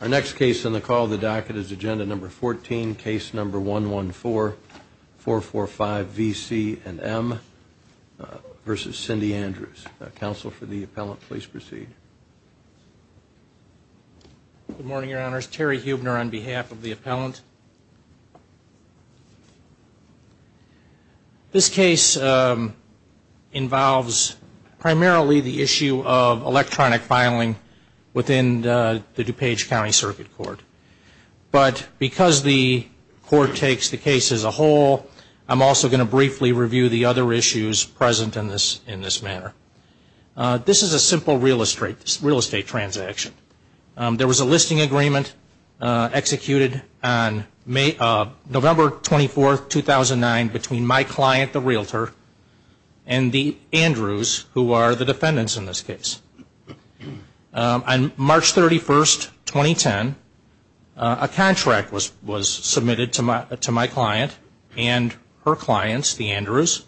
Our next case on the call of the docket is Agenda No. 14, Case No. 114-445-VC&M v. Cindy Andrews. Counsel for the appellant, please proceed. Good morning, Your Honors. Terry Huebner on behalf of the appellant. This case involves primarily the issue of electronic filing within the DuPage County Circuit Court. But because the court takes the case as a whole, I'm also going to briefly review the other issues present in this manner. This is a simple real estate transaction. There was a listing agreement executed on November 24, 2009 between my client, the realtor, and the Andrews, who are the defendants in this case. On March 31, 2010, a contract was submitted to my client and her clients, the Andrews.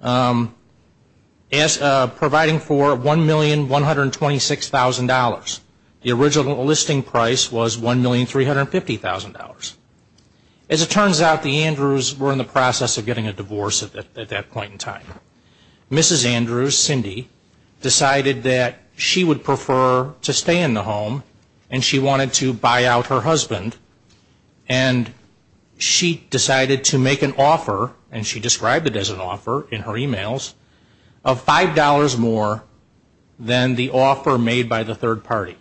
Providing for $1,126,000. The original listing price was $1,350,000. As it turns out, the Andrews were in the process of getting a divorce at that point in time. Mrs. Andrews, Cindy, decided that she would prefer to stay in the home and she wanted to buy out her husband. And she decided to make an offer, and she described it as an offer in her emails, of $5 more than the offer made by the third party.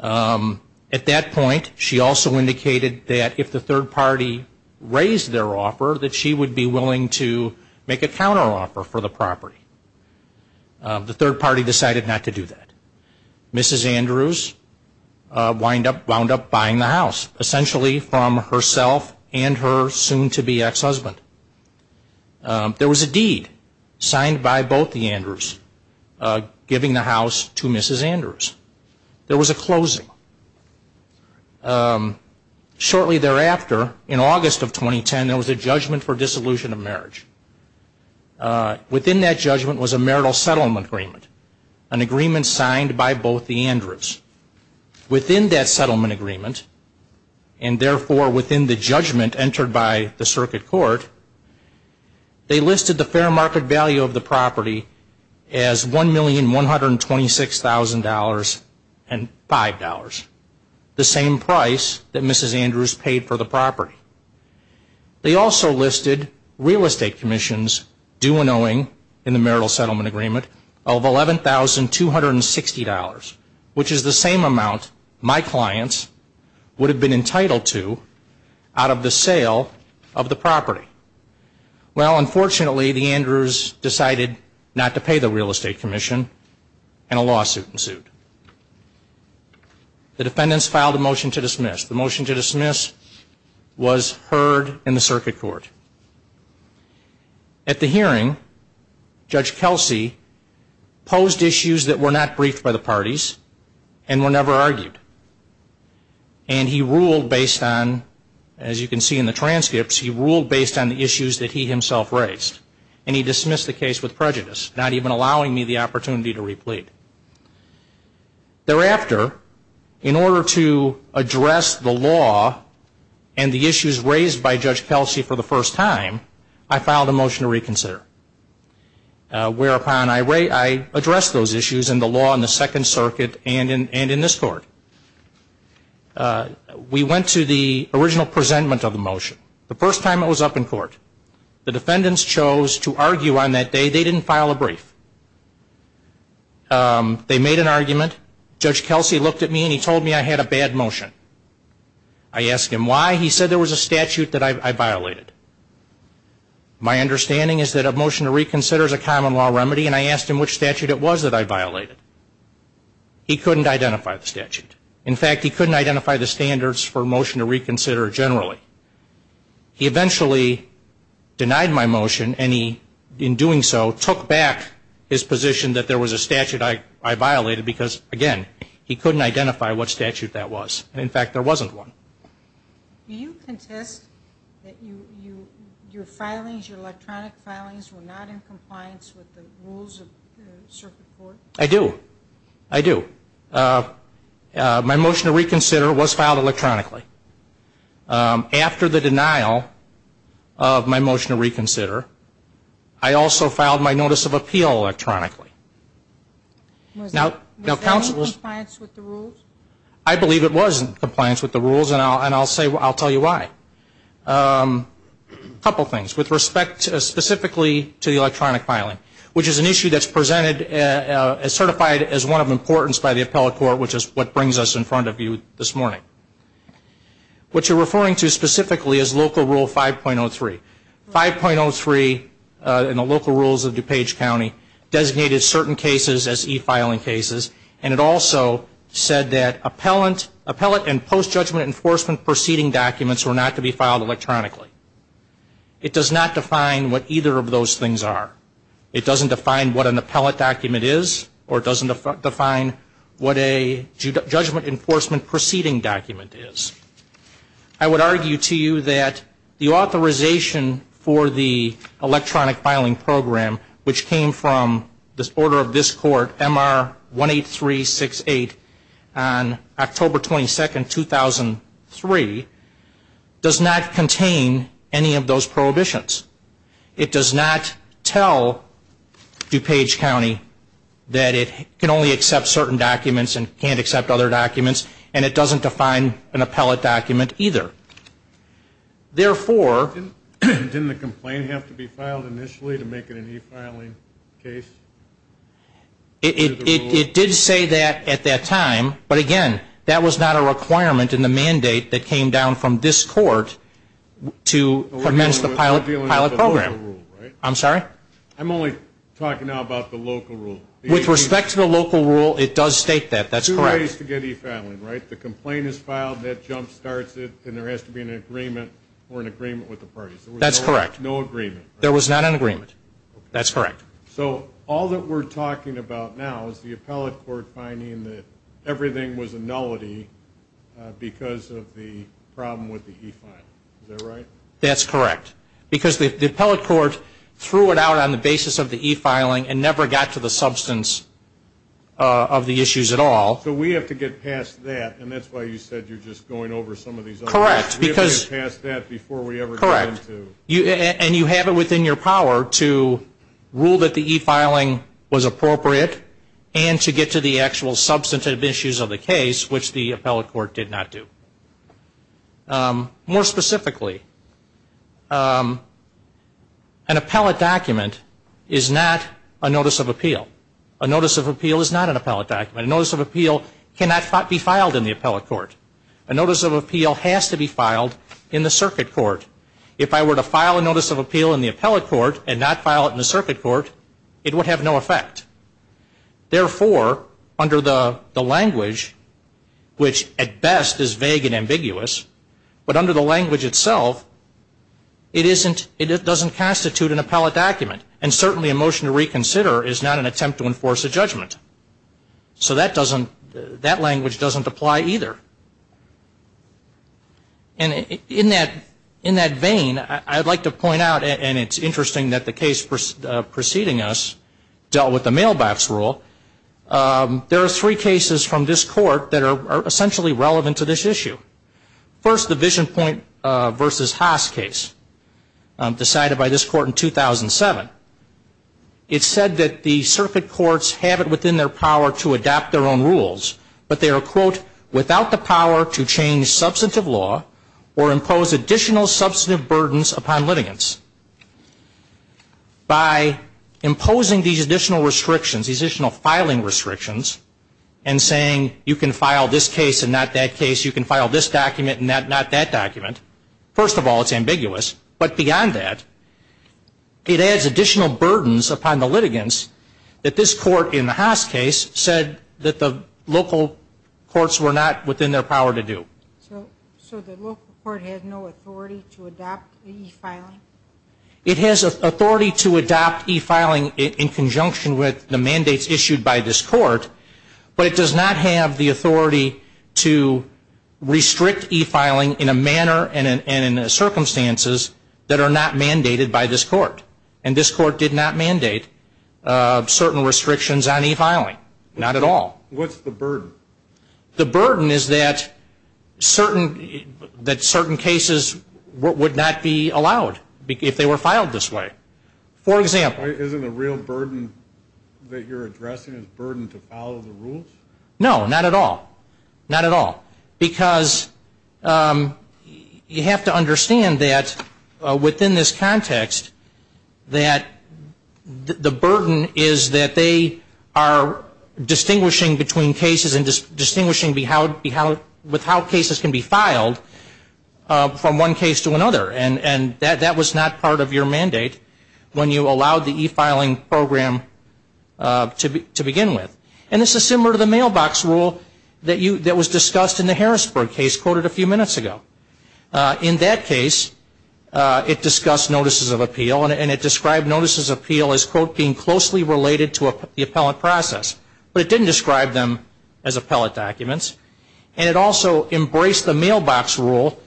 At that point, she also indicated that if the third party raised their offer, that she would be willing to make a counteroffer for the property. The third party decided not to do that. Mrs. Andrews wound up buying the house, essentially from herself and her soon-to-be ex-husband. There was a deed signed by both the Andrews giving the house to Mrs. Andrews. There was a closing. Shortly thereafter, in August of 2010, there was a judgment for dissolution of marriage. Within that judgment was a marital settlement agreement, an agreement signed by both the Andrews. Within that settlement agreement, and therefore within the judgment entered by the circuit court, they listed the fair market value of The same price that Mrs. Andrews paid for the property. They also listed real estate commissions due and owing in the marital settlement agreement of $11,260, which is the same amount my clients would have been entitled to out of the sale of the property. Well, unfortunately, the Andrews decided not to pay the real estate commission and a lawsuit ensued. The defendants filed a motion to dismiss. The motion to dismiss was heard in the circuit court. At the hearing, Judge Kelsey posed issues that were not briefed by the parties and were never argued. And he ruled based on, as you can see in the transcripts, he ruled based on the issues that he himself raised. And he dismissed the case with prejudice, not even allowing me the opportunity to replete. Thereafter, in order to address the law and the issues raised by Judge Kelsey for the first time, I filed a motion to reconsider. Whereupon, I addressed those issues in the law in the Second Circuit and in this court. We went to the original presentment of the motion. The first time it was up in court. The defendants chose to argue on that day. They didn't file a brief. They made an argument. Judge Kelsey looked at me and he told me I had a bad motion. I asked him why. He said there was a statute that I violated. My understanding is that a In fact, he couldn't identify the standards for a motion to reconsider generally. He eventually denied my motion and he, in doing so, took back his position that there was a statute I violated because, again, he couldn't identify what statute that was. In fact, there wasn't one. Do you contest that your filings, your electronic filings, were not in compliance with the rules of the circuit court? I do. I do. My motion to reconsider was filed electronically. After the denial of my motion to reconsider, I also filed my notice of appeal electronically. Was that in compliance with the rules? I believe it was in compliance with the rules and I'll say, I'll tell you why. A couple things. With respect specifically to the electronic filing, which is an issue that's presented as certified as one of importance by the appellate court, which is what brings us in front of you this morning. What you're referring to specifically is Local Rule 5.03. 5.03 in the local rules of DuPage County designated certain cases as e-filing cases and it also said that appellate and post-judgment enforcement proceeding documents were not to be filed electronically. It does not define what either of those things are. It doesn't define what an appellate document is or it doesn't define what a judgment enforcement proceeding document is. I would argue to you that the authorization for the electronic filing program, which came from this order of this court, MR 18368, on October 22, 2003, does not contain any of those prohibitions. It does not tell DuPage County that it can only accept certain documents and can't accept other documents and it doesn't define an appellate document either. Therefore... Didn't the complaint have to be filed initially to make it an e-filing case? It did say that at that time, but again, that was not a requirement in the mandate that came down from this court to commence the pilot program. I'm sorry? I'm only talking now about the local rule. With respect to the local rule, it does state that. That's correct. There are ways to get e-filing, right? The complaint is filed, that jump starts it, and there has to be an agreement or an agreement with the parties. That's correct. No agreement. There was not an agreement. That's correct. So all that we're talking about now is the appellate court finding that everything was a nullity because of the problem with the e-filing. Is that right? That's correct. Because the appellate court threw it out on the basis of the e-filing and never got to the substance of the issues at all. So we have to get past that, and that's why you said you're just going over some of these other ones. Correct. We have to get past that before we ever get into. Correct. And you have it within your power to rule that the e-filing was appropriate and to get to the actual substantive issues of the case, which the appellate court did not do. More specifically, an appellate document is not a notice of appeal. A notice of appeal is not an appellate document. A notice of appeal cannot be filed in the appellate court. A notice of appeal has to be filed in the circuit court. If I were to file a notice of appeal in the appellate court and not file it in the circuit court, it would have no effect. Therefore, under the language, which at best is vague and ambiguous, but under the language itself, it doesn't constitute an appellate document. And certainly a motion to reconsider is not an attempt to enforce a judgment. So that language doesn't apply either. And in that vein, I'd like to point out, and it's interesting that the case preceding us dealt with the mailbox rule, there are three cases from this court that are essentially relevant to this issue. First, the Visionpoint v. Haas case decided by this court in 2007. It said that the circuit courts have it within their power to adopt their own rules, but they are, quote, without the power to change substantive law or impose additional substantive burdens upon litigants. By imposing these additional restrictions, these additional filing restrictions, and saying you can file this case and not that case, you can file this document and not that document, first of all it's ambiguous, but beyond that, it adds additional burdens upon the litigants that this court in the Haas case said that the local courts were not within their power to do. So the local court has no authority to adopt e-filing? It has authority to adopt e-filing in conjunction with the mandates issued by this court, but it does not have the authority to restrict e-filing in a manner and in circumstances that are not mandated by this court. And this court did not mandate certain restrictions on e-filing. Not at all. What's the burden? The burden is that certain cases would not be allowed if they were filed this way. For example. Isn't the real burden that you're addressing is burden to follow the rules? No, not at all. Not at all. Because you have to understand that within this context, that the burden is that they are distinguishing between cases and distinguishing with how cases can be filed from one case to another. And that was not part of your mandate when you allowed the e-filing program to begin with. And this is similar to the mailbox rule that was discussed in the Harrisburg case quoted a few minutes ago. In that case, it discussed notices of appeal and it described notices of appeal as, quote, being closely related to the appellate process. But it didn't describe them as appellate documents. And it also embraced the mailbox rule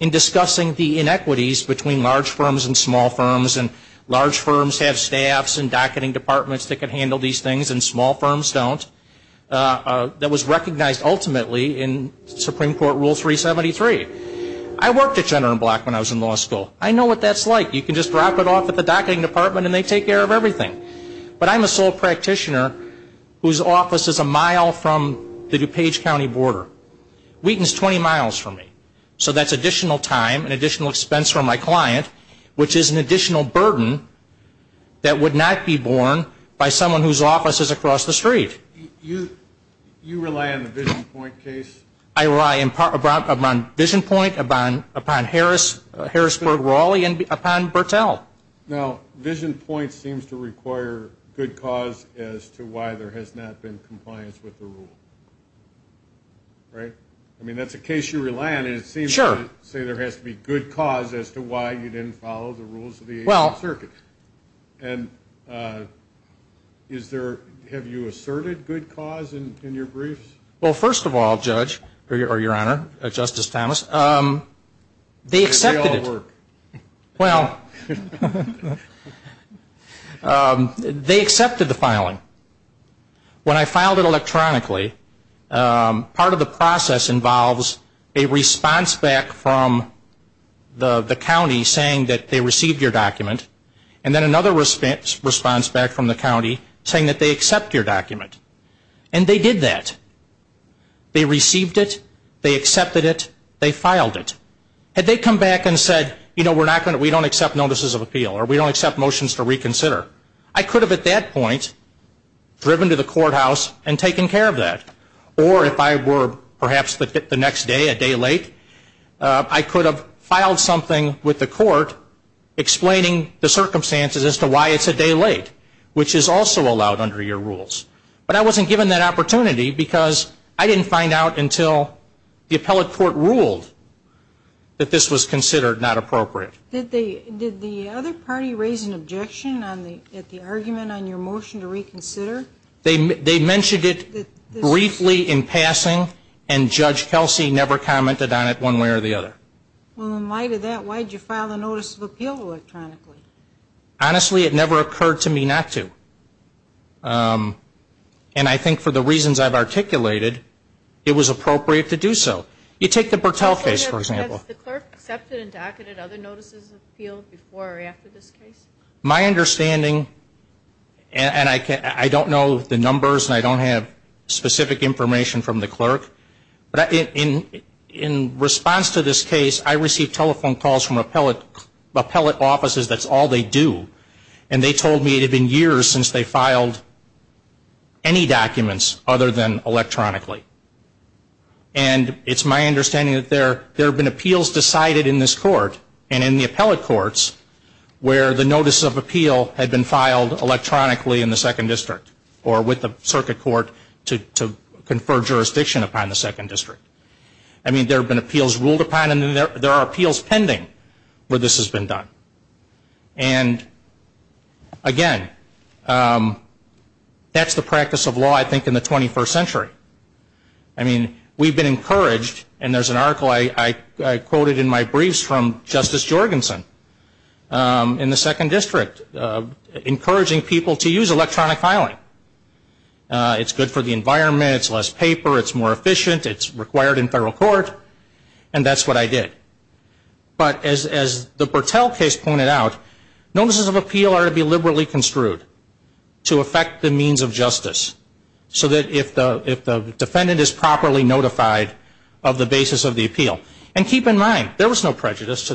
in discussing the inequities between large firms and small firms. And large firms have staffs and docketing departments that can handle these things and small firms don't. That was recognized ultimately in Supreme Court Rule 373. I worked at Gender and Black when I was in law school. I know what that's like. You can just drop it off at the docketing department and they take care of everything. But I'm a sole practitioner whose office is a mile from the DuPage County border. Wheaton's 20 miles from me. So that's additional time and additional expense for my client, which is an additional burden that would not be borne by someone whose office is across the street. You rely on the Vision Point case? I rely upon Vision Point, upon Harrisburg-Rawley, and upon Bertell. Now, Vision Point seems to require good cause as to why there has not been compliance with the rule. Right? I mean, that's a case you rely on. Sure. Say there has to be good cause as to why you didn't follow the rules of the 18th Circuit. And is there, have you asserted good cause in your briefs? Well, first of all, Judge, or Your Honor, Justice Thomas, they accepted it. They all work. Well, they accepted the filing. When I filed it electronically, part of the process involves a response back from the county saying that they received your document, and then another response back from the county saying that they accept your document. And they did that. They received it. They accepted it. They filed it. Had they come back and said, you know, we don't accept notices of appeal, or we don't accept motions to reconsider, I could have at that point driven to the courthouse and taken care of that. Or if I were perhaps the next day, a day late, I could have filed something with the court explaining the circumstances as to why it's a day late, which is also allowed under your rules. But I wasn't given that opportunity because I didn't find out until the appellate court ruled that this was considered not appropriate. Did the other party raise an objection at the argument on your motion to reconsider? They mentioned it briefly in passing, and Judge Kelsey never commented on it one way or the other. Well, in light of that, why did you file a notice of appeal electronically? Honestly, it never occurred to me not to. And I think for the reasons I've articulated, it was appropriate to do so. You take the Bertel case, for example. Has the clerk accepted and docketed other notices of appeal before or after this case? My understanding, and I don't know the numbers, and I don't have specific information from the clerk, but in response to this case, I received telephone calls from appellate offices. That's all they do. And they told me it had been years since they filed any documents other than electronically. And it's my understanding that there have been appeals decided in this court and in the appellate courts where the notice of appeal had been filed electronically in the 2nd District or with the circuit court to confer jurisdiction upon the 2nd District. I mean, there have been appeals ruled upon, and there are appeals pending where this has been done. And, again, that's the practice of law, I think, in the 21st century. I mean, we've been encouraged, and there's an article I quoted in my briefs from Justice Jorgensen in the 2nd District encouraging people to use electronic filing. It's good for the environment. It's less paper. It's more efficient. It's required in federal court. And that's what I did. But as the Bertell case pointed out, notices of appeal are to be liberally construed to affect the means of justice so that if the defendant is properly notified of the basis of the appeal. And keep in mind, there was no prejudice to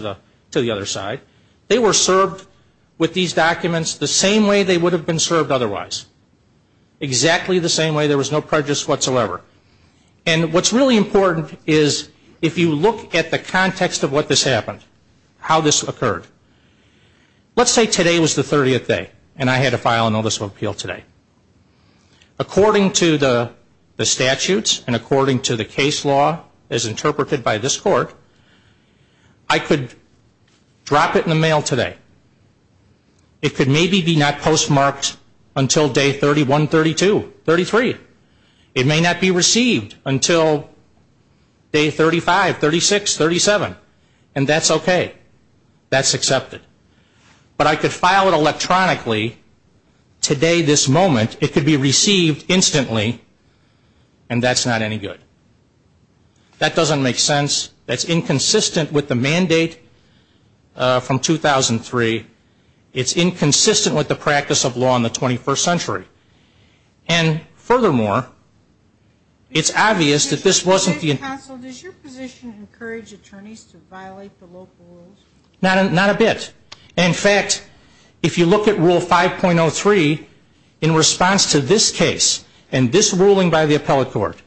the other side. They were served with these documents the same way they would have been served otherwise, exactly the same way. There was no prejudice whatsoever. And what's really important is if you look at the context of what this happened, how this occurred. Let's say today was the 30th day, and I had to file a notice of appeal today. According to the statutes and according to the case law as interpreted by this court, I could drop it in the mail today. It could maybe be not postmarked until day 31, 32, 33. It may not be received until day 35, 36, 37. And that's okay. That's accepted. But I could file it electronically today this moment. It could be received instantly, and that's not any good. That doesn't make sense. That's inconsistent with the mandate from 2003. It's inconsistent with the practice of law in the 21st century. And furthermore, it's obvious that this wasn't the intent. Counsel, does your position encourage attorneys to violate the local rules? Not a bit. In fact, if you look at Rule 5.03, in response to this case and this ruling by the appellate court,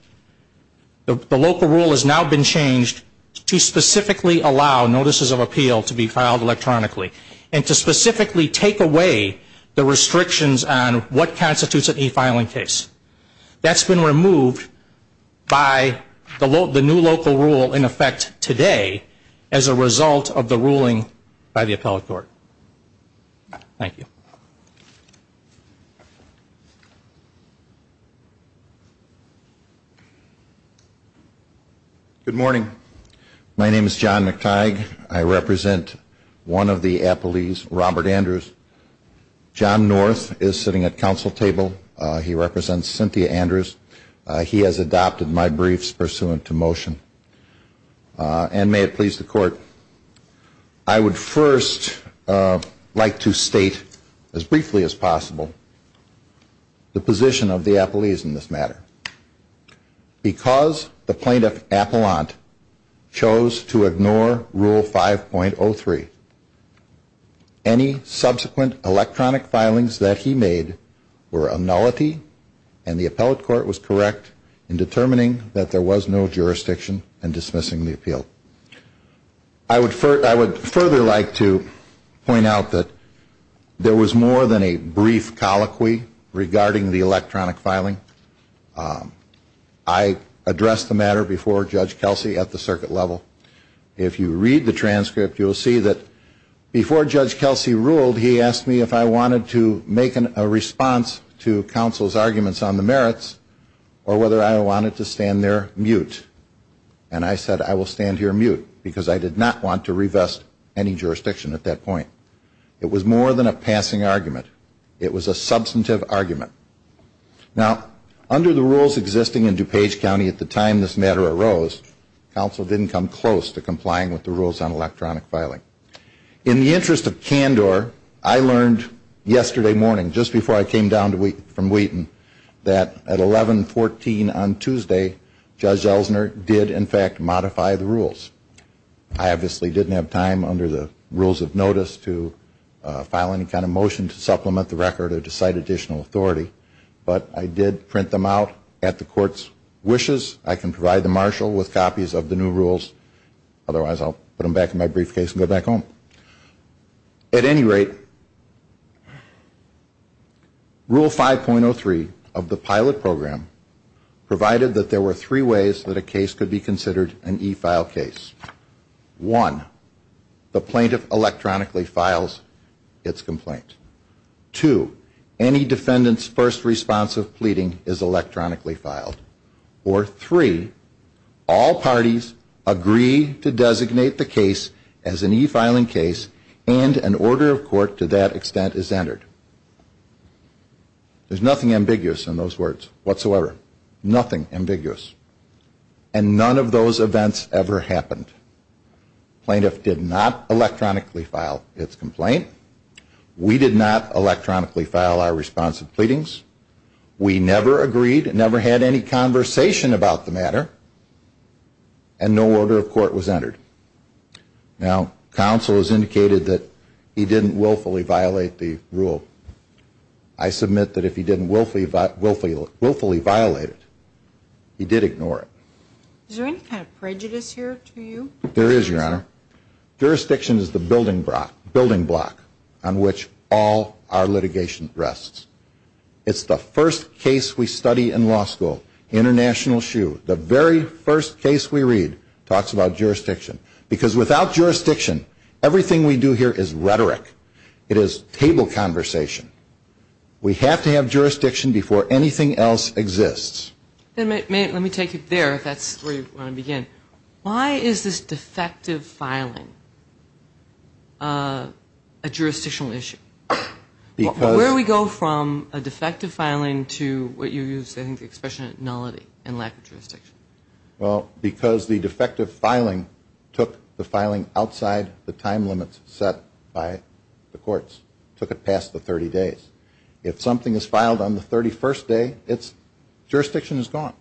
the local rule has now been changed to specifically allow notices of appeal to be filed electronically and to specifically take away the restrictions on what constitutes an e-filing case. That's been removed by the new local rule in effect today as a result of the ruling by the appellate court. Thank you. Good morning. My name is John McTighe. I represent one of the appellees, Robert Andrews. John North is sitting at counsel table. He represents Cynthia Andrews. He has adopted my briefs pursuant to motion. And may it please the Court, I would first like to state as briefly as possible the position of the appellees in this matter. Because the plaintiff, Appellant, chose to ignore Rule 5.03, any subsequent electronic filings that he made were a nullity and the appellate court was correct in determining that there was no jurisdiction in dismissing the appeal. I would further like to point out that there was more than a brief colloquy regarding the electronic filing. I addressed the matter before Judge Kelsey at the circuit level. If you read the transcript, you will see that before Judge Kelsey ruled, he asked me if I wanted to make a response to counsel's arguments on the merits or whether I wanted to stand there mute. And I said I will stand here mute because I did not want to revest any jurisdiction at that point. It was more than a passing argument. It was a substantive argument. Now, under the rules existing in DuPage County at the time this matter arose, counsel didn't come close to complying with the rules on electronic filing. In the interest of candor, I learned yesterday morning, just before I came down from Wheaton, that at 1114 on Tuesday, Judge Elsner did, in fact, modify the rules. I obviously didn't have time under the rules of notice to file any kind of motion to supplement the record or to cite additional authority, but I did print them out at the court's wishes. I can provide the marshal with copies of the new rules. Otherwise, I'll put them back in my briefcase and go back home. At any rate, Rule 5.03 of the pilot program provided that there were three ways that a case could be considered an e-file case. One, the plaintiff electronically files its complaint. Two, any defendant's first response of pleading is electronically filed. Or three, all parties agree to designate the case as an e-filing case and an order of court to that extent is entered. There's nothing ambiguous in those words whatsoever. Nothing ambiguous. And none of those events ever happened. The plaintiff did not electronically file its complaint. We did not electronically file our response of pleadings. We never agreed, never had any conversation about the matter, and no order of court was entered. Now, counsel has indicated that he didn't willfully violate the rule. I submit that if he didn't willfully violate it, he did ignore it. Is there any kind of prejudice here to you? There is, Your Honor. Jurisdiction is the building block on which all our litigation rests. It's the first case we study in law school. International Shoe, the very first case we read, talks about jurisdiction. Because without jurisdiction, everything we do here is rhetoric. It is table conversation. We have to have jurisdiction before anything else exists. Let me take it there, if that's where you want to begin. Why is this defective filing a jurisdictional issue? Where do we go from a defective filing to what you used, I think, the expression nullity and lack of jurisdiction? Well, because the defective filing took the filing outside the time limits set by the courts. It took it past the 30 days. If something is filed on the 31st day, jurisdiction is gone.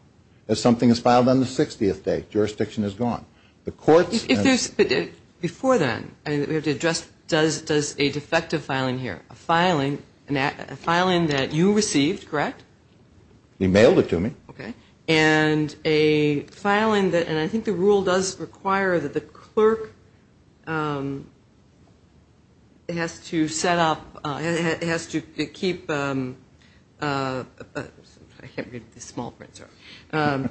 If something is filed on the 60th day, jurisdiction is gone. Before then, we have to address, does a defective filing here, a filing that you received, correct? He mailed it to me. Okay. And a filing that, and I think the rule does require that the clerk has to set up, has to keep, I can't read the small print, sorry.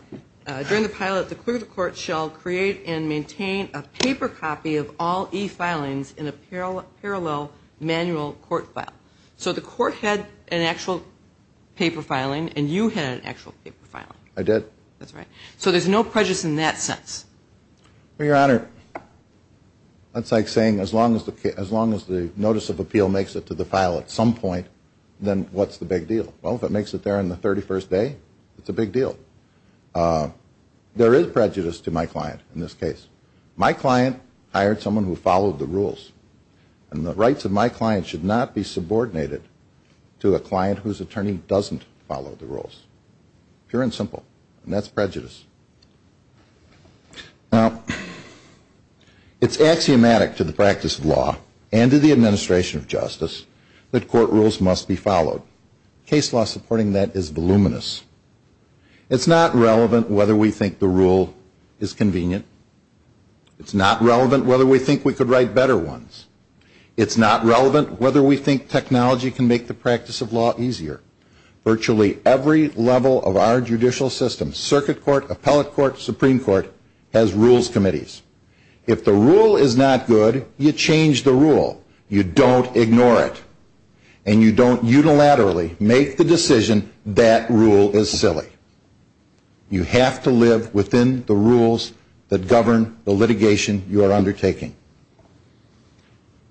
During the pilot, the clerk of the court shall create and maintain a paper copy of all e-filings in a parallel manual court file. So the court had an actual paper filing and you had an actual paper filing. I did. That's right. So there's no prejudice in that sense. Well, Your Honor, that's like saying as long as the notice of appeal makes it to the file at some point, then what's the big deal? Well, if it makes it there on the 31st day, it's a big deal. There is prejudice to my client in this case. My client hired someone who followed the rules. And the rights of my client should not be subordinated to a client whose attorney doesn't follow the rules. Pure and simple. And that's prejudice. Now, it's axiomatic to the practice of law and to the administration of justice that court rules must be followed. Case law supporting that is voluminous. It's not relevant whether we think the rule is convenient. It's not relevant whether we think we could write better ones. It's not relevant whether we think technology can make the practice of law easier. Virtually every level of our judicial system, circuit court, appellate court, Supreme Court, has rules committees. If the rule is not good, you change the rule. You don't ignore it. And you don't unilaterally make the decision that rule is silly. You have to live within the rules that govern the litigation you are undertaking.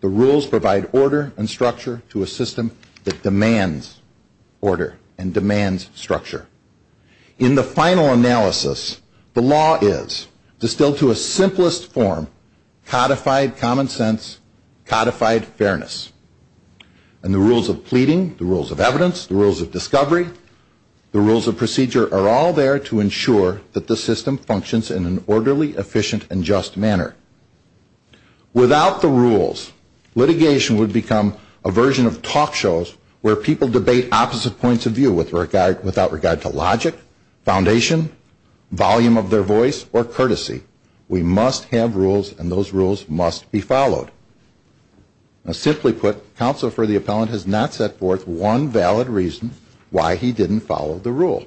The rules provide order and structure to a system that demands order and demands structure. In the final analysis, the law is distilled to a simplest form, codified common sense, codified fairness. And the rules of pleading, the rules of evidence, the rules of discovery, the rules of procedure, are all there to ensure that the system functions in an orderly, efficient, and just manner. Without the rules, litigation would become a version of talk shows where people debate opposite points of view without regard to logic, foundation, volume of their voice, or courtesy. We must have rules, and those rules must be followed. Now, simply put, counsel for the appellant has not set forth one valid reason why he didn't follow the rule.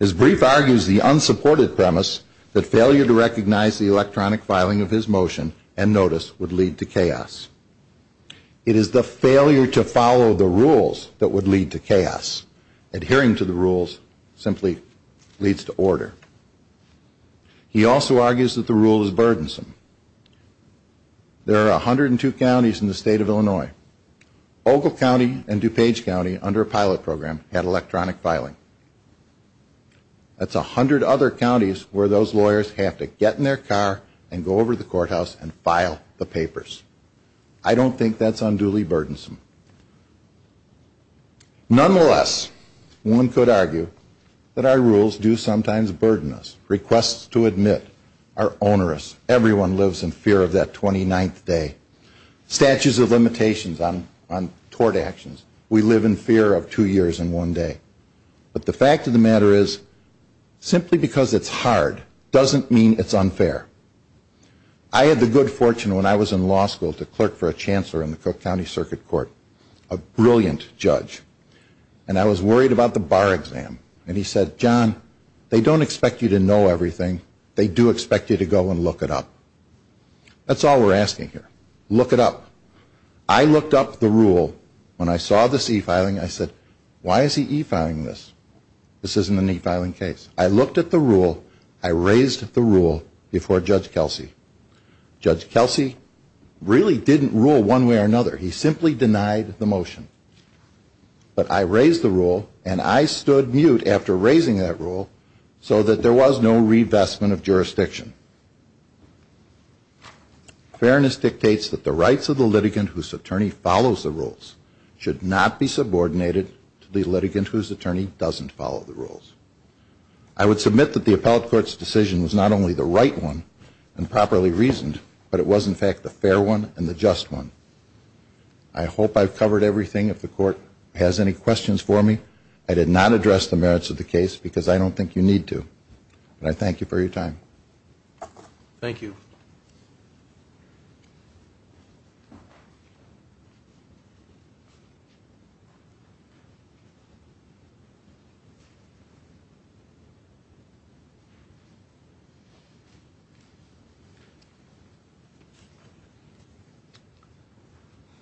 His brief argues the unsupported premise that failure to recognize the electronic filing of his motion and notice would lead to chaos. It is the failure to follow the rules that would lead to chaos. Adhering to the rules simply leads to order. He also argues that the rule is burdensome. There are 102 counties in the state of Illinois. Ogle County and DuPage County, under a pilot program, had electronic filing. That's 100 other counties where those lawyers have to get in their car and go over to the courthouse and file the papers. I don't think that's unduly burdensome. Nonetheless, one could argue that our rules do sometimes burden us. Requests to admit are onerous. Everyone lives in fear of that 29th day. Statues of limitations on tort actions. We live in fear of two years and one day. But the fact of the matter is, simply because it's hard doesn't mean it's unfair. I had the good fortune when I was in law school to clerk for a chancellor in the Cook County Circuit Court, a brilliant judge. And I was worried about the bar exam. And he said, John, they don't expect you to know everything. They do expect you to go and look it up. That's all we're asking here. Look it up. I looked up the rule. When I saw this e-filing, I said, why is he e-filing this? This isn't an e-filing case. I looked at the rule. I raised the rule before Judge Kelsey. Judge Kelsey really didn't rule one way or another. He simply denied the motion. But I raised the rule, and I stood mute after raising that rule so that there was no revestment of jurisdiction. Fairness dictates that the rights of the litigant whose attorney follows the rules should not be subordinated to the litigant whose attorney doesn't follow the rules. I would submit that the appellate court's decision was not only the right one and properly reasoned, but it was, in fact, the fair one and the just one. I hope I've covered everything. If the court has any questions for me, I did not address the merits of the case because I don't think you need to. And I thank you for your time. Thank you.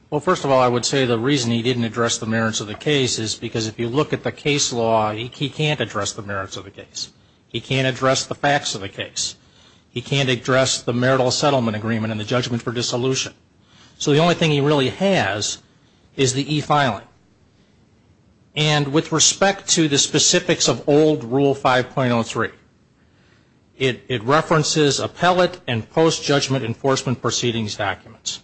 Well, first of all, I would say the reason he didn't address the merits of the case is because if you look at the case law, he can't address the merits of the case. He can't address the facts of the case. He can't address the marital settlement agreement and the judgment for dissolution. So the only thing he really has is the e-filing. And with respect to the specifics of old Rule 5.03, it references appellate and post-judgment enforcement proceedings documents.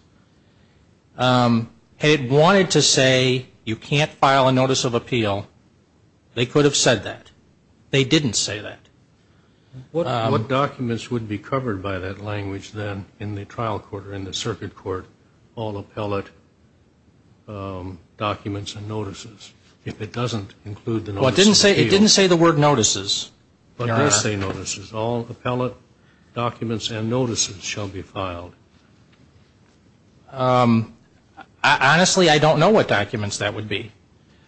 Had it wanted to say you can't file a notice of appeal, they could have said that. They didn't say that. What documents would be covered by that language then in the trial court or in the circuit court? All appellate documents and notices. If it doesn't include the notice of appeal. It didn't say the word notices. It does say notices. All appellate documents and notices shall be filed. Honestly, I don't know what documents that would be.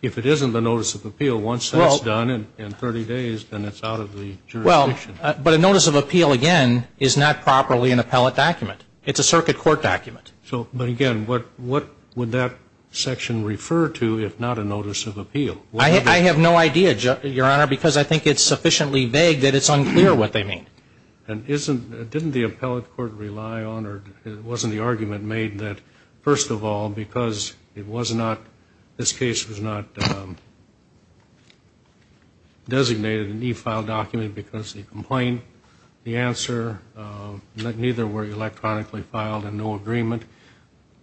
If it isn't the notice of appeal, once that's done in 30 days, then it's out of the jurisdiction. Well, but a notice of appeal, again, is not properly an appellate document. It's a circuit court document. But, again, what would that section refer to if not a notice of appeal? I have no idea, Your Honor, because I think it's sufficiently vague that it's unclear what they mean. Didn't the appellate court rely on or wasn't the argument made that, first of all, because it was not, this case was not designated an e-file document because the complaint, the answer, that neither were electronically filed and no agreement,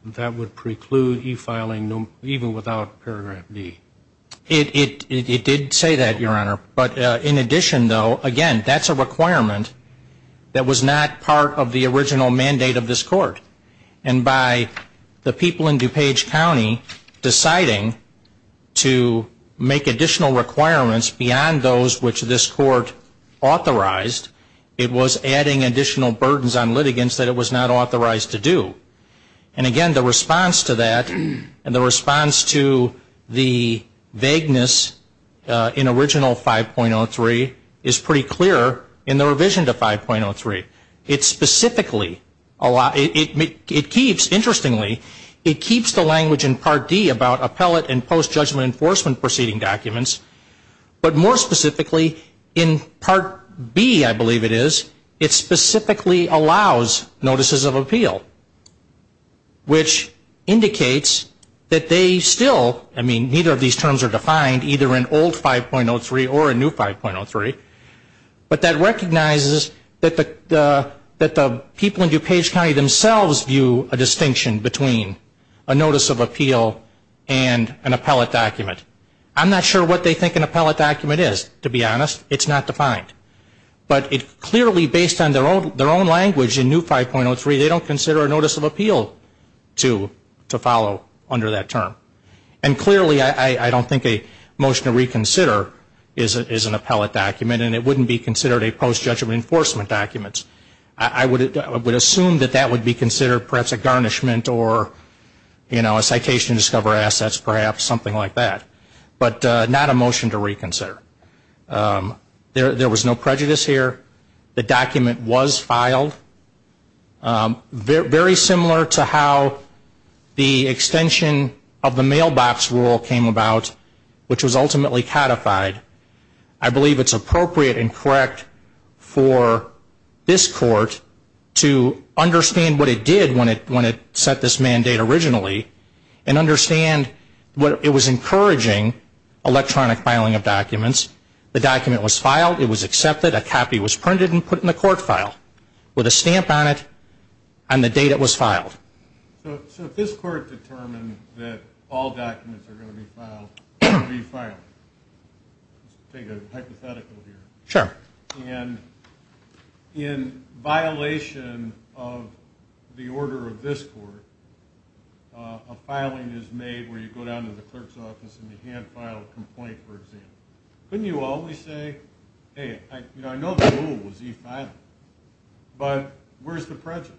that would preclude e-filing even without paragraph D? It did say that, Your Honor. But, in addition, though, again, that's a requirement that was not part of the original mandate of this court. And by the people in DuPage County deciding to make additional requirements beyond those which this court authorized, it was adding additional burdens on litigants that it was not authorized to do. And, again, the response to that and the response to the vagueness in original 5.03 is pretty clear in the revision to 5.03. It specifically, it keeps, interestingly, it keeps the language in Part D about appellate and post-judgment enforcement proceeding documents. But, more specifically, in Part B, I believe it is, it specifically allows notices of appeal, which indicates that they still, I mean, neither of these terms are defined, either in old 5.03 or in new 5.03, but that recognizes that the people in DuPage County themselves view a distinction between a notice of appeal and an appellate document. I'm not sure what they think an appellate document is, to be honest. It's not defined. But it clearly, based on their own language in new 5.03, they don't consider a notice of appeal to follow under that term. And, clearly, I don't think a motion to reconsider is an appellate document, and it wouldn't be considered a post-judgment enforcement document. I would assume that that would be considered perhaps a garnishment or, you know, a citation to discover assets, perhaps something like that. But not a motion to reconsider. There was no prejudice here. The document was filed. Very similar to how the extension of the mailbox rule came about, which was ultimately codified, I believe it's appropriate and correct for this court to understand what it did when it set this mandate originally and understand what it was encouraging, electronic filing of documents. The document was filed. It was accepted. A copy was printed and put in the court file with a stamp on it and the date it was filed. So if this court determined that all documents are going to be filed, it would be filed. Let's take a hypothetical here. Sure. And in violation of the order of this court, a filing is made where you go down to the clerk's office and you hand-file a complaint, for example. Couldn't you always say, hey, you know, I know the rule was e-filing, but where's the prejudice?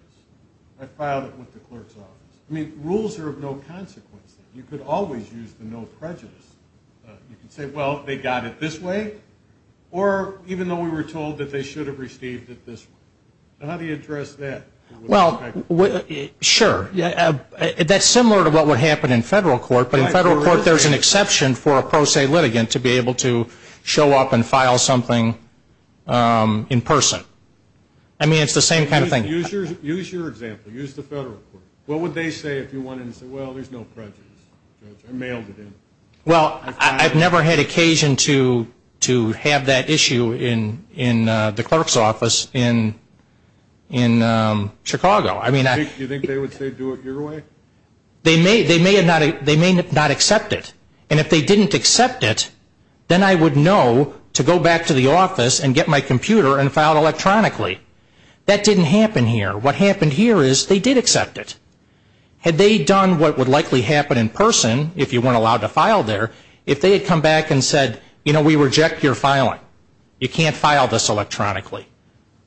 I filed it with the clerk's office. I mean, rules are of no consequence. You could always use the no prejudice. You could say, well, they got it this way, or even though we were told that they should have received it this way. How do you address that? Well, sure. That's similar to what would happen in federal court, but in federal court there's an exception for a pro se litigant to be able to show up and file something in person. I mean, it's the same kind of thing. Use your example. Use the federal court. What would they say if you went in and said, well, there's no prejudice? I mailed it in. Well, I've never had occasion to have that issue in the clerk's office in Chicago. Do you think they would say do it your way? They may not accept it, and if they didn't accept it, then I would know to go back to the office and get my computer and file it electronically. That didn't happen here. What happened here is they did accept it. Had they done what would likely happen in person, if you weren't allowed to file there, if they had come back and said, you know, we reject your filing. You can't file this electronically.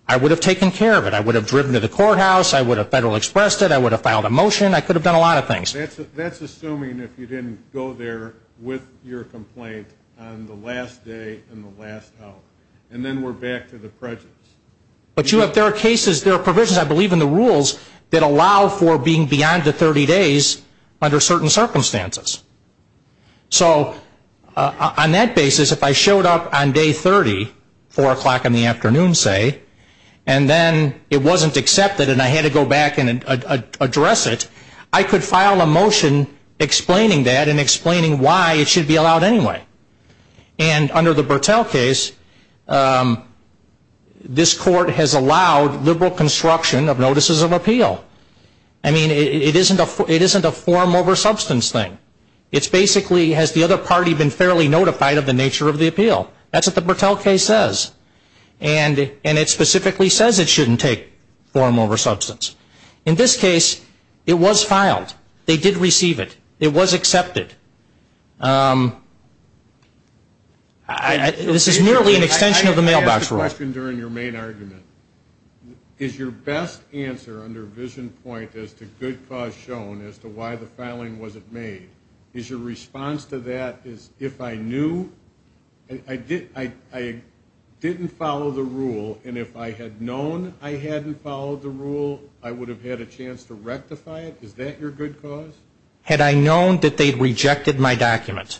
I would have taken care of it. I would have driven to the courthouse. I would have federal expressed it. I would have filed a motion. I could have done a lot of things. That's assuming if you didn't go there with your complaint on the last day and the last hour, and then we're back to the prejudice. But there are cases, there are provisions, I believe in the rules, that allow for being beyond the 30 days under certain circumstances. So on that basis, if I showed up on day 30, 4 o'clock in the afternoon, say, and then it wasn't accepted and I had to go back and address it, I could file a motion explaining that and explaining why it should be allowed anyway. And under the Bertell case, this court has allowed liberal construction of notices of appeal. I mean, it isn't a form over substance thing. It's basically has the other party been fairly notified of the nature of the appeal. That's what the Bertell case says. And it specifically says it shouldn't take form over substance. In this case, it was filed. They did receive it. It was accepted. This is merely an extension of the mailbox rule. I have a question during your main argument. Is your best answer under vision point as to good cause shown as to why the filing wasn't made, is your response to that is if I knew, I didn't follow the rule, and if I had known I hadn't followed the rule, I would have had a chance to rectify it? Is that your good cause? Had I known that they rejected my document,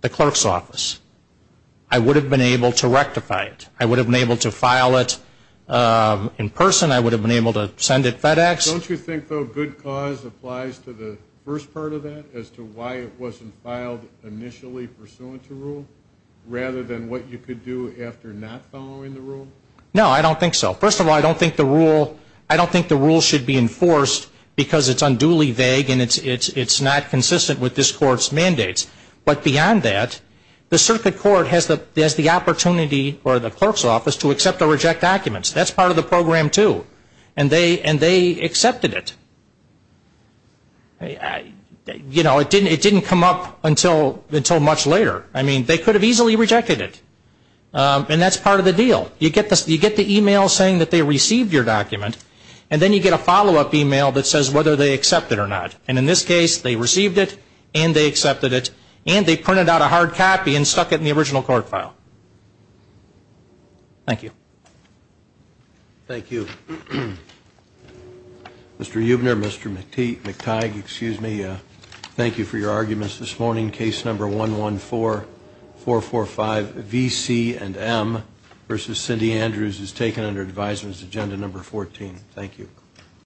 the clerk's office, I would have been able to rectify it. I would have been able to file it in person. I would have been able to send it FedEx. Don't you think, though, good cause applies to the first part of that as to why it wasn't filed initially pursuant to rule rather than what you could do after not following the rule? No, I don't think so. First of all, I don't think the rule should be enforced because it's unduly vague and it's not consistent with this court's mandates. But beyond that, the circuit court has the opportunity, or the clerk's office, to accept or reject documents. That's part of the program, too. And they accepted it. It didn't come up until much later. They could have easily rejected it. And that's part of the deal. You get the e-mail saying that they received your document, and then you get a follow-up e-mail that says whether they accept it or not. And in this case, they received it and they accepted it, and they printed out a hard copy and stuck it in the original court file. Thank you. Thank you. Mr. Eubner, Mr. McTighe, thank you for your arguments this morning. Case number 114445VC&M versus Cindy Andrews is taken under advisers' agenda number 14. Thank you.